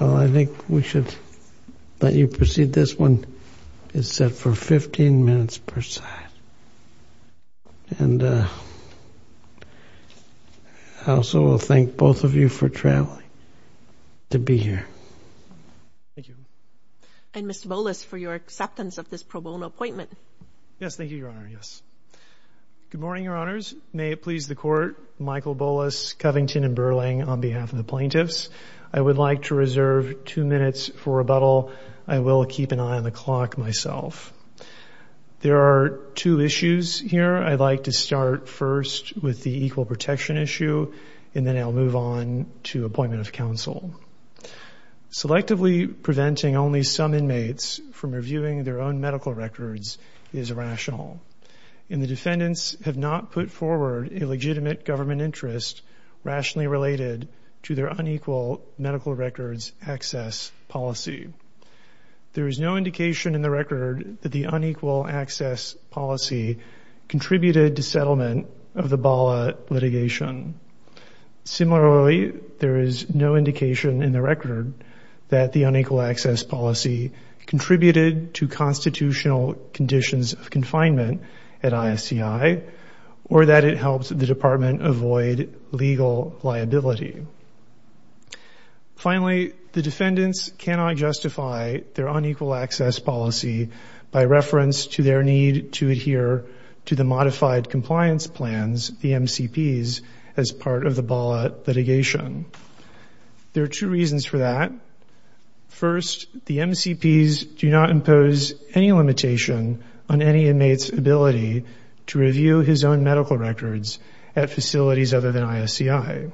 Well, I think we should let you proceed. This one is set for 15 minutes per side. And I also thank both of you for traveling to be here. Thank you. And Mr. Bolas, for your acceptance of this pro bono appointment. Yes. Thank you, Your Honor. Yes. Good morning, Your Honors. May it please the court, Michael Bolas, Covington, and Burling on behalf of the plaintiffs. I would like to reserve two minutes for rebuttal. I will keep an eye on the clock myself. There are two issues here. I'd like to start first with the equal protection issue, and then I'll move on to appointment of counsel. Selectively preventing only some inmates from reviewing their own medical records is irrational. And the defendants have not put forward a legitimate government interest rationally related to their unequal medical records access policy. There is no indication in the record that the unequal access policy contributed to settlement of the Bala litigation. Similarly, there is no indication in the record that the unequal access policy contributed to constitutional conditions of confinement at ISCI, or that it helps the department avoid legal liability. Finally, the defendants cannot justify their unequal access policy by reference to their need to adhere to the modified compliance plans, the MCPs, as part of the Bala litigation. There are two reasons for that. First, the MCPs do not impose any limitation on any inmate's ability to review medical records at facilities other than ISCI.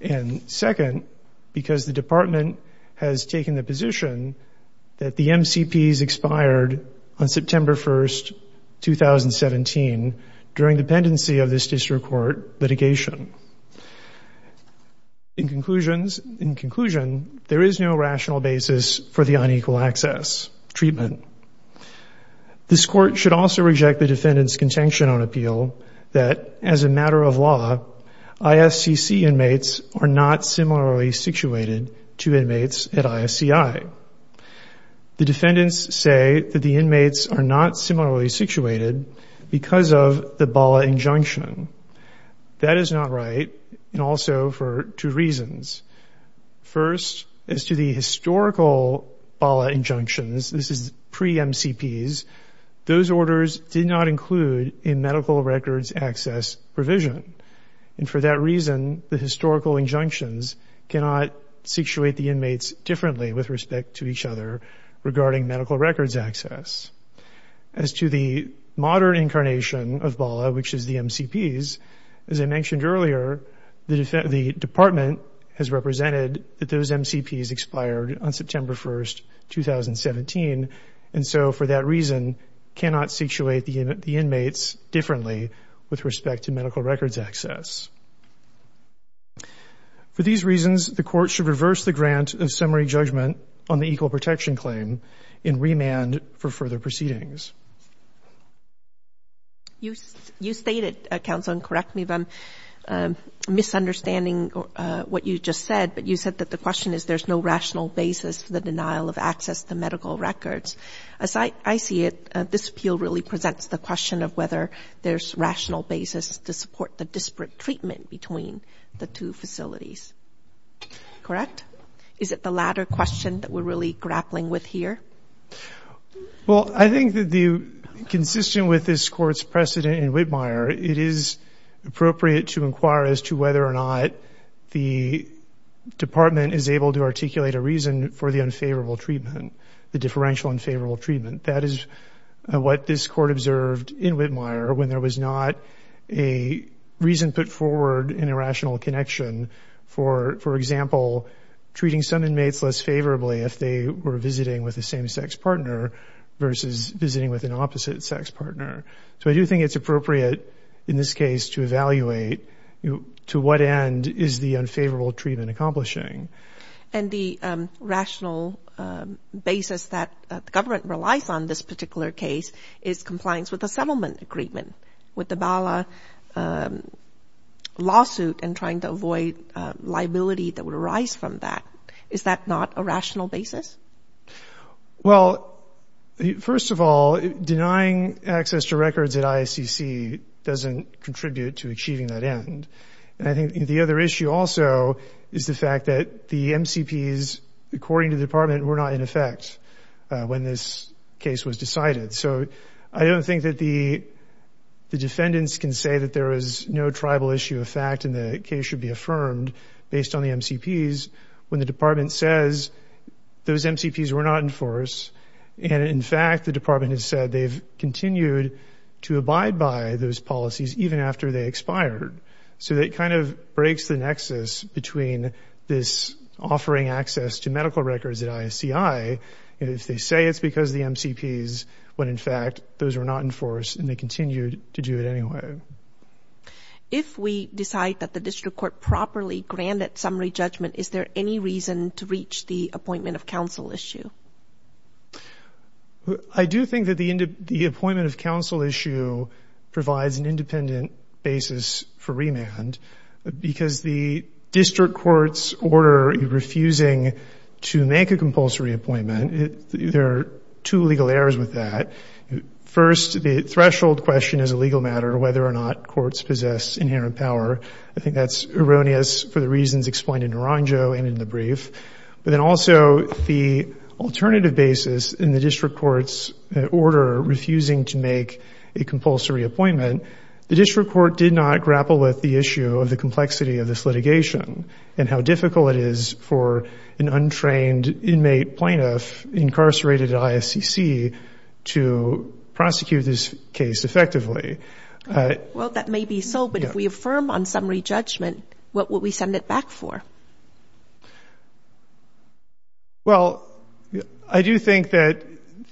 And second, because the department has taken the position that the MCPs expired on September 1st, 2017, during the pendency of this district court litigation. In conclusion, there is no rational basis for the unequal access treatment. This court should also reject the defendant's contention on appeal that, as a matter of law, ISCC inmates are not similarly situated to inmates at ISCI. The defendants say that the inmates are not similarly situated because of the Bala injunction. That is not right, and also for two reasons. First, as to the historical Bala injunctions, this is pretty much pre-MCPs, those orders did not include a medical records access provision. And for that reason, the historical injunctions cannot situate the inmates differently with respect to each other regarding medical records access. As to the modern incarnation of Bala, which is the MCPs, as I mentioned earlier, the department has represented that those MCPs expired on September 1st, 2017, and so for that reason, cannot situate the inmates differently with respect to medical records access. For these reasons, the court should reverse the grant of summary judgment on the equal protection claim and remand for further proceedings. You stated, counsel, and correct me if I'm misunderstanding what you just said, but you said that the question is there's no rational basis for the denial of access to medical records. As I see it, this appeal really presents the question of whether there's rational basis to support the disparate treatment between the two facilities. Correct? Is it the latter question that we're really grappling with here? Well, I think that the, consistent with this court's precedent in Whitmire, it is appropriate to inquire as to whether or not the department is able to articulate a reason for the unfavorable treatment, the differential unfavorable treatment. That is what this court observed in Whitmire when there was not a reason put forward in a rational connection for, for example, treating some inmates less favorably if they were visiting with the same sex partner versus visiting with an opposite sex partner. So I do think it's appropriate in this case to evaluate to what end is the unfavorable treatment accomplishing. And the rational basis that the government relies on this particular case is compliance with the settlement agreement, with the Bala lawsuit and trying to avoid liability that would arise from that. Is that not a rational basis? Well, first of all, denying access to records at IACC doesn't contribute to achieving that end. And I think the other issue also is the fact that the MCPs, according to the department, were not in effect when this case was decided. So I don't think that the defendants can say that there is no tribal issue of fact and the case should be affirmed based on the MCPs when the department says those MCPs were not in force. And in fact, the department has said they've continued to abide by those policies even after they expired. So that kind of breaks the nexus between this offering access to medical records at IACI. And if they say it's because the MCPs, when in fact those were not in force and they continued to do it anyway. If we decide that the district court properly granted summary judgment, is there any reason to reach the appointment of counsel issue? I do think that the appointment of counsel issue provides an independent basis for remand because the district court's order refusing to make a compulsory appointment, there are two legal errors with that. First, the threshold question is a legal matter, whether or not courts possess inherent power. I think that's erroneous for the reasons explained in Naranjo and in the brief. But then also the alternative basis in the district court's order refusing to make a compulsory appointment, the district court did not grapple with the issue of the complexity of this litigation and how difficult it is for an untrained inmate plaintiff incarcerated at IACC to prosecute this case effectively. Well, that may be so, but if we affirm on summary judgment, what would we send it back for? Well, I do think that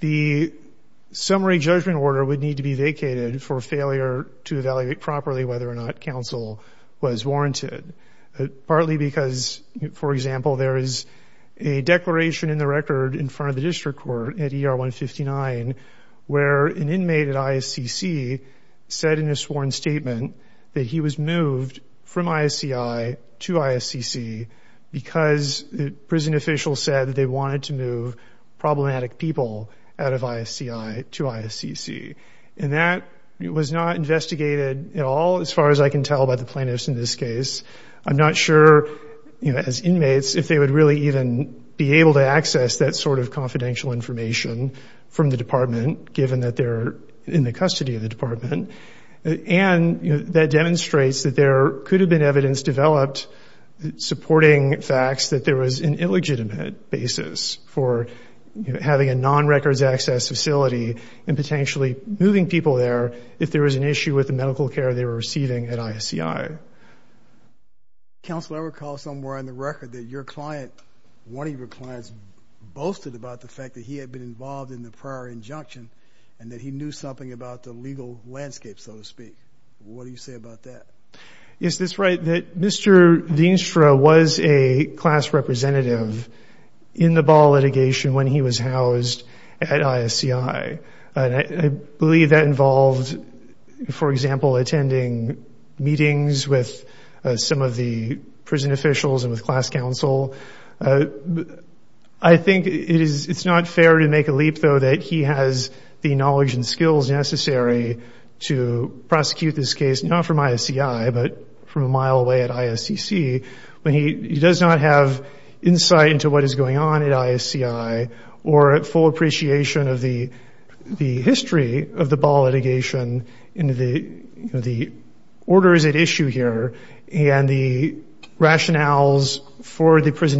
the summary judgment order would need to be vacated for failure to evaluate properly whether or not counsel was warranted. Partly because, for example, there is a declaration in the record in front of the said in a sworn statement that he was moved from IACI to IACC because the prison official said that they wanted to move problematic people out of IACI to IACC. And that was not investigated at all, as far as I can tell by the plaintiffs in this case. I'm not sure, you know, as inmates, if they would really even be able to access that sort of confidential information from the department, given that they're in the department, and that demonstrates that there could have been evidence developed supporting facts that there was an illegitimate basis for having a non-records access facility and potentially moving people there if there was an issue with the medical care they were receiving at IACI. Counsel, I recall somewhere in the record that your client, one of your clients, boasted about the fact that he had been involved in the prior injunction and that he knew something about the legal landscape, so to speak. What do you say about that? Is this right, that Mr. Dienstra was a class representative in the ball litigation when he was housed at IACI? And I believe that involved, for example, attending meetings with some of the prison officials and with class counsel. I think it's not fair to make a leap, though, that he has the knowledge and skills necessary to prosecute this case, not from IACI, but from a mile away at IACC, when he does not have insight into what is going on at IACI or full appreciation of the history of the ball litigation and the orders at issue here and the prison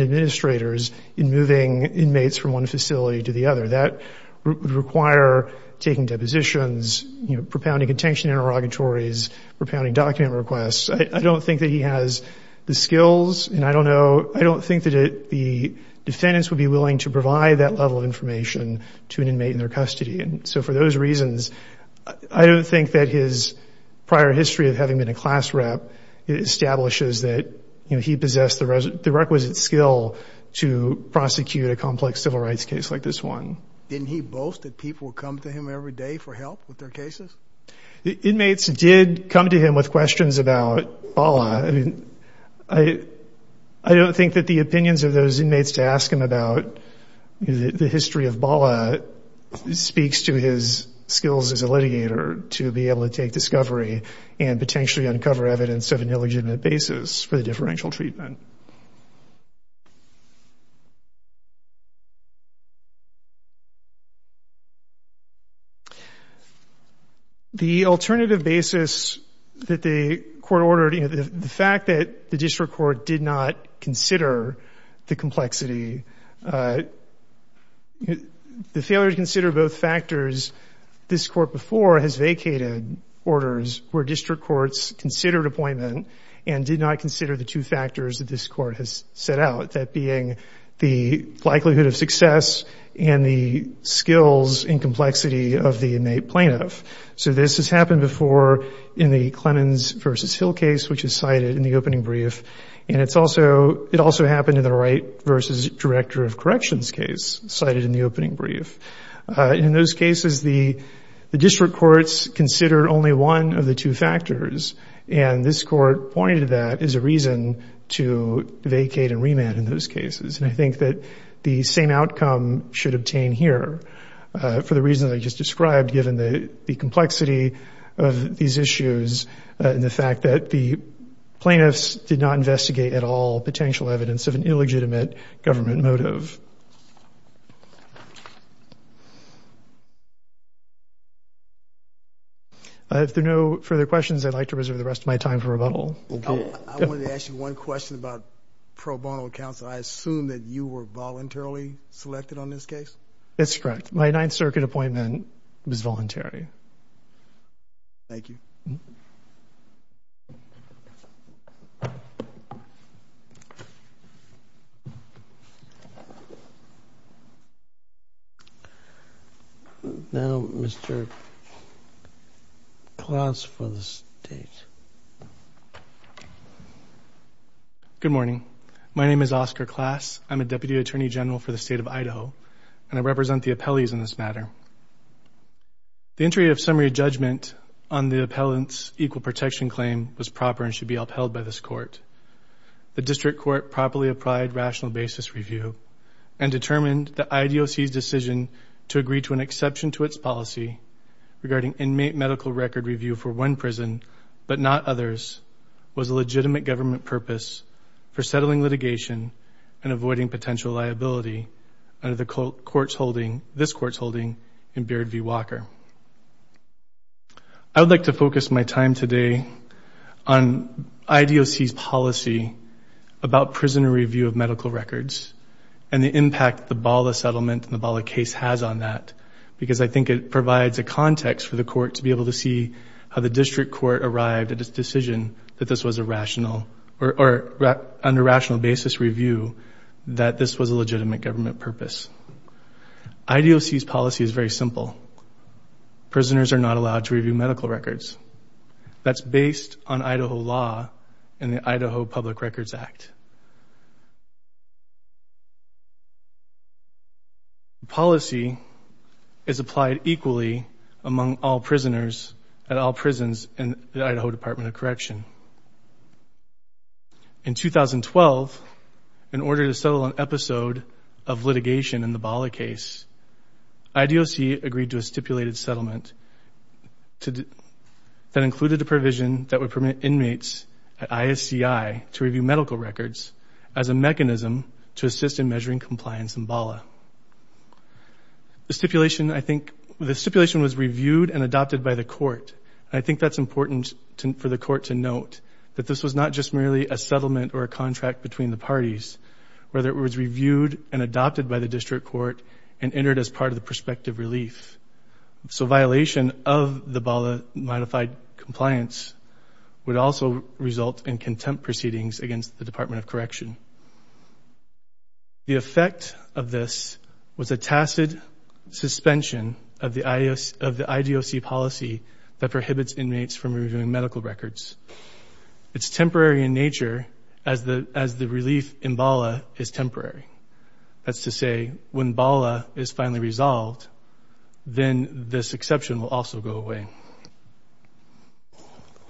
administrators in moving inmates from one facility to the other. That would require taking depositions, propounding contention interrogatories, propounding document requests. I don't think that he has the skills and I don't think that the defendants would be willing to provide that level of information to an inmate in their custody. And so for those reasons, I don't think that his prior history of having been a class rep establishes that he possessed the requisite skill to prosecute a complex civil rights case like this one. Didn't he boast that people would come to him every day for help with their cases? The inmates did come to him with questions about BALA. I mean, I don't think that the opinions of those inmates to ask him about the history of BALA speaks to his skills as a litigator to be able to take discovery and potentially uncover evidence of an illegitimate basis for the differential treatment. The alternative basis that the court ordered, the fact that the district court did not consider the complexity, the failure to consider both factors, this court before has considered appointment and did not consider the two factors that this court has set out, that being the likelihood of success and the skills and complexity of the inmate plaintiff. So this has happened before in the Clemens versus Hill case, which is cited in the opening brief. And it also happened in the Wright versus Director of Corrections case cited in the opening brief. In those cases, the district courts consider only one of the two factors. And this court pointed to that as a reason to vacate and remand in those cases. And I think that the same outcome should obtain here for the reasons I just described, given the complexity of these issues and the fact that the plaintiffs did not investigate at all potential evidence of an illegitimate government motive. If there are no further questions, I'd like to reserve the rest of my time for rebuttal. I wanted to ask you one question about pro bono counsel. I assume that you were voluntarily selected on this case? That's correct. My Ninth Circuit appointment was voluntary. Thank you. Now, Mr. Klaas for the State. Good morning. My name is Oscar Klaas. I'm a deputy attorney general for the state of Idaho, and I represent the appellees in this matter. The entry of summary judgment on the appellant's equal protection claim was proper and should be upheld by this court. The district court properly applied rational basis review and determined that IDOC's decision to agree to an exception to its policy regarding inmate medical record review for one prison, but not others, was a legitimate government purpose for settling litigation and avoiding potential liability under this court's holding in Beard v. Walker. I would like to focus my time today on IDOC's policy about prisoner review of medical records and the impact the BALA settlement and the BALA case has on that, because I think it provides a context for the court to be able to see how the district court arrived at its decision that this was a rational or under rational basis review that this was a legitimate government purpose. IDOC's policy is very simple. Prisoners are not allowed to review medical records. That's based on Idaho law and the Idaho Public Records Act. The policy is applied equally among all prisoners at all prisons in the Idaho Department of Correction. In 2012, in order to settle an episode of litigation in the BALA case, IDOC agreed to a stipulated settlement that included a provision that would permit inmates at ISCI to review medical records as a mechanism to assist in measuring compliance in BALA. The stipulation, I think, the stipulation was reviewed and adopted by the court. I think that's important for the court to note that this was not just merely a settlement or a contract between the parties, whether it was reviewed and adopted by the district court and entered as part of the prospective relief. So violation of the BALA modified compliance would also result in contempt proceedings against the Department of Correction. The effect of this was a tacit suspension of the IDOC policy that prohibits inmates from reviewing medical records. It's temporary in nature as the relief in BALA is temporary. That's to say, when BALA is finally resolved, then this exception will also go away.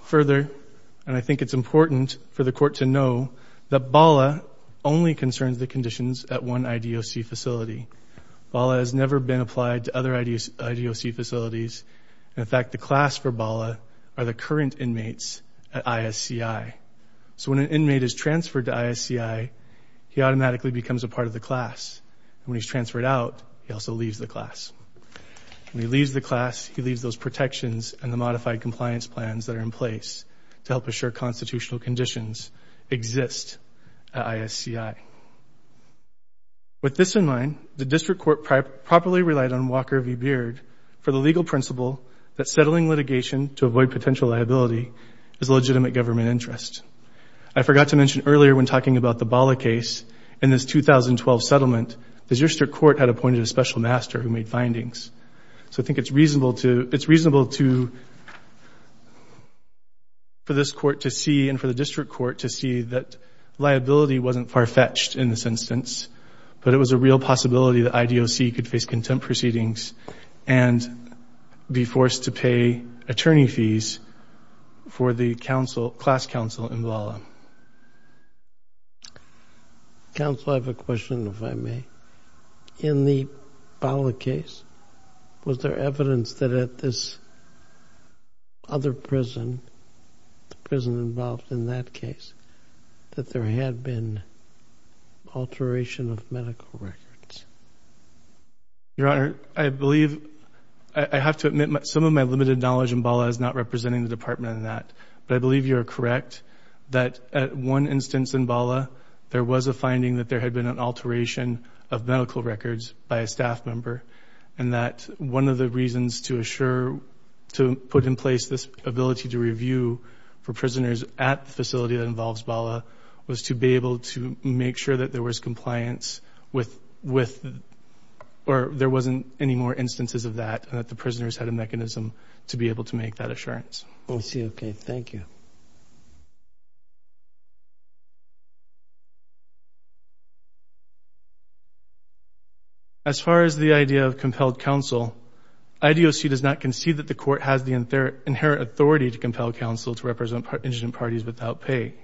Further, and I think it's important for the court to know, that BALA only concerns the conditions at one IDOC facility. BALA has never been applied to other IDOC facilities. In fact, the class for BALA are the current inmates at ISCI. So when an inmate is transferred to ISCI, he automatically becomes a part of the class. When he leaves the class, he leaves those protections and the modified compliance plans that are in place to help assure constitutional conditions exist at ISCI. With this in mind, the district court properly relied on Walker v. Beard for the legal principle that settling litigation to avoid potential liability is a legitimate government interest. I forgot to mention earlier when talking about the BALA case, in this 2012 settlement, the So I think it's reasonable to, it's reasonable to, for this court to see and for the district court to see that liability wasn't far-fetched in this instance, but it was a real possibility that IDOC could face contempt proceedings and be forced to pay attorney fees for the class counsel in BALA. Counsel, I have a question, if I may. In the BALA case, was there evidence that at this other prison, the prison involved in that case, that there had been alteration of medical records? Your Honor, I believe, I have to admit some of my limited knowledge in BALA is not representing the department in that, but I believe you are correct that at one instance in BALA, there was a finding that there had been an alteration of medical records by a staff member and that one of the reasons to assure, to put in place this ability to review for prisoners at the facility that involves BALA was to be able to make sure that there was compliance with, or there wasn't any more instances of that and that the prisoners had a mechanism to be able to make that assurance. I see. Okay. Thank you. As far as the idea of compelled counsel, IDOC does not concede that the court has the inherent authority to compel counsel to represent indigent parties without pay.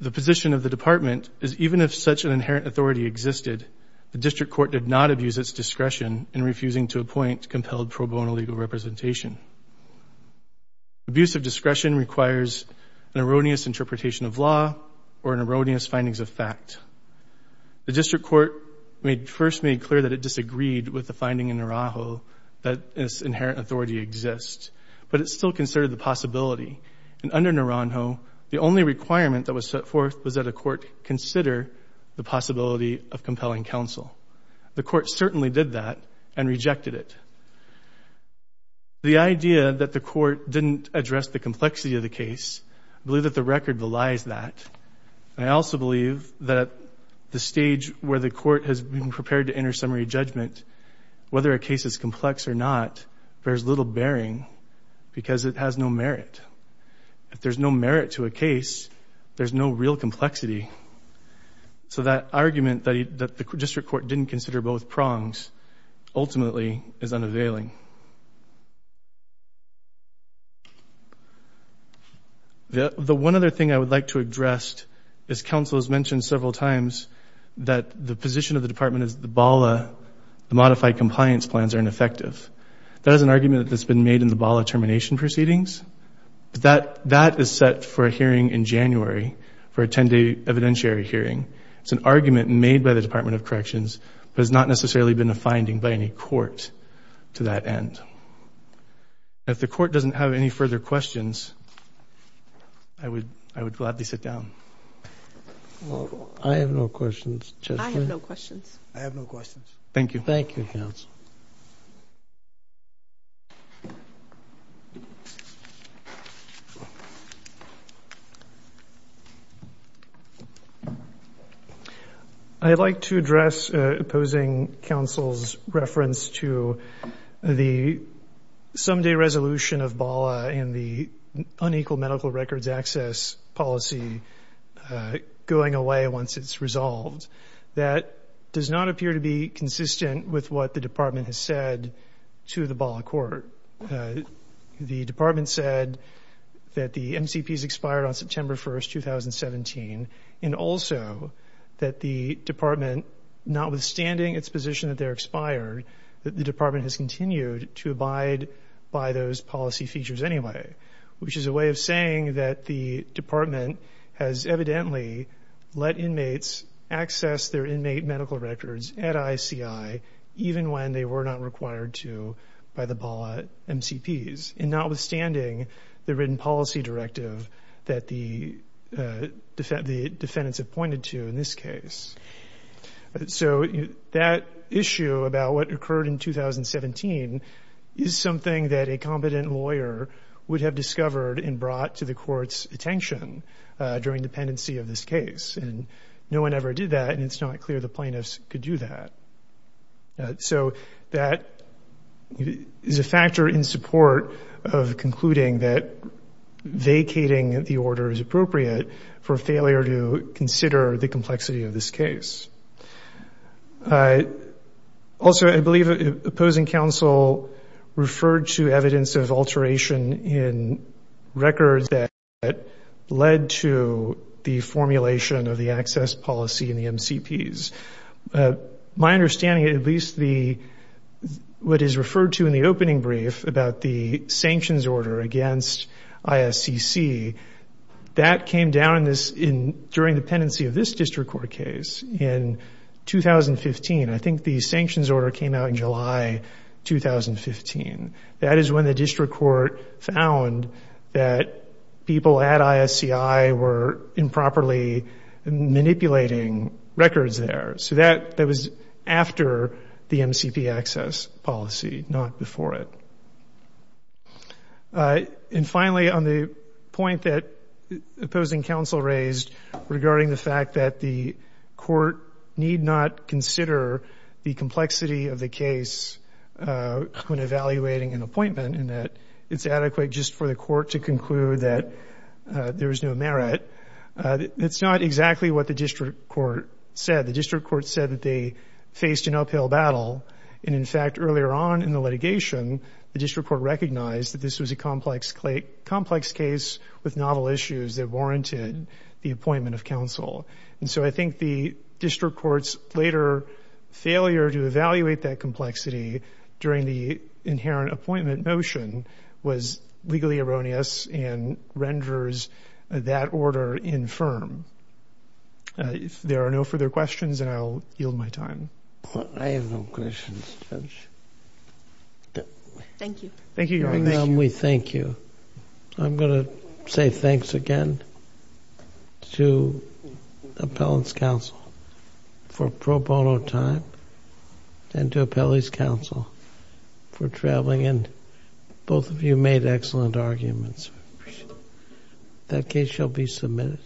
The position of the department is even if such an inherent authority existed, the district court did not abuse its discretion in refusing to appoint compelled pro bono legal representation. Abuse of discretion requires an erroneous interpretation of law or an erroneous findings of fact. The district court first made clear that it disagreed with the finding in Naranjo that this inherent authority exists, but it still considered the possibility and under Naranjo, the only requirement that was set forth was that a court consider the possibility of compelling counsel. The court certainly did that and rejected it. The idea that the court didn't address the complexity of the case, I believe that the record belies that. I also believe that the stage where the court has been prepared to enter summary judgment, whether a case is complex or not, bears little bearing because it has no merit. If there's no merit to a case, there's no real complexity. So that argument that the district court didn't consider both prongs ultimately is not availing. The one other thing I would like to address is counsel has mentioned several times that the position of the department is the BALA, the modified compliance plans are ineffective. That is an argument that's been made in the BALA termination proceedings. That that is set for a hearing in January for a 10 day evidentiary hearing. It's an argument made by the Department of Corrections, but it's not necessarily been a finding by any court. So I would like to address counsel's reference to that and if the court doesn't have any further questions, I would, I would gladly sit down. I have no questions. I have no questions. I have no questions. Thank you. Thank you. I'd like to address opposing counsel's reference to the someday resolution of BALA and the unequal medical records access policy going away once it's resolved. That does not appear to be consistent with what the department has said to the BALA court. The department said that the MCPs expired on September 1st, 2017, and also that the department, notwithstanding its position that they're expired, that the department has continued to abide by those policy features anyway, which is a way of saying that the medical records at ICI, even when they were not required to by the BALA MCPs and notwithstanding the written policy directive that the defendants appointed to in this case. So that issue about what occurred in 2017 is something that a competent lawyer would have discovered and brought to the court's attention during dependency of this case. No one ever did that, and it's not clear the plaintiffs could do that. So that is a factor in support of concluding that vacating the order is appropriate for failure to consider the complexity of this case. Also, I believe opposing counsel referred to evidence of alteration in records that led to the formulation of the access policy in the MCPs. My understanding, at least what is referred to in the opening brief about the sanctions order against ISCC, that came down during dependency of this district court case in 2015. I think the sanctions order came out in July 2015. That is when the district court found that people at ISCI were improperly manipulating records there. So that was after the MCP access policy, not before it. And finally, on the point that opposing counsel raised regarding the fact that the court need not consider the complexity of the case when evaluating an appointment, and that it's adequate just for the court to conclude that there is no merit, that's not exactly what the district court said. The district court said that they faced an uphill battle. And in fact, earlier on in the litigation, the district court recognized that this was a complex case with novel issues that warranted the appointment of counsel. And so I think the district court's later failure to evaluate that complexity during the inherent appointment motion was legally erroneous and renders that order infirm. If there are no further questions, then I'll yield my time. I have no questions, Judge. Thank you. Thank you, Your Honor. We thank you. I'm going to say thanks again to Appellant's counsel for pro bono time and to Appellee's counsel for traveling in. Both of you made excellent arguments. That case shall be submitted.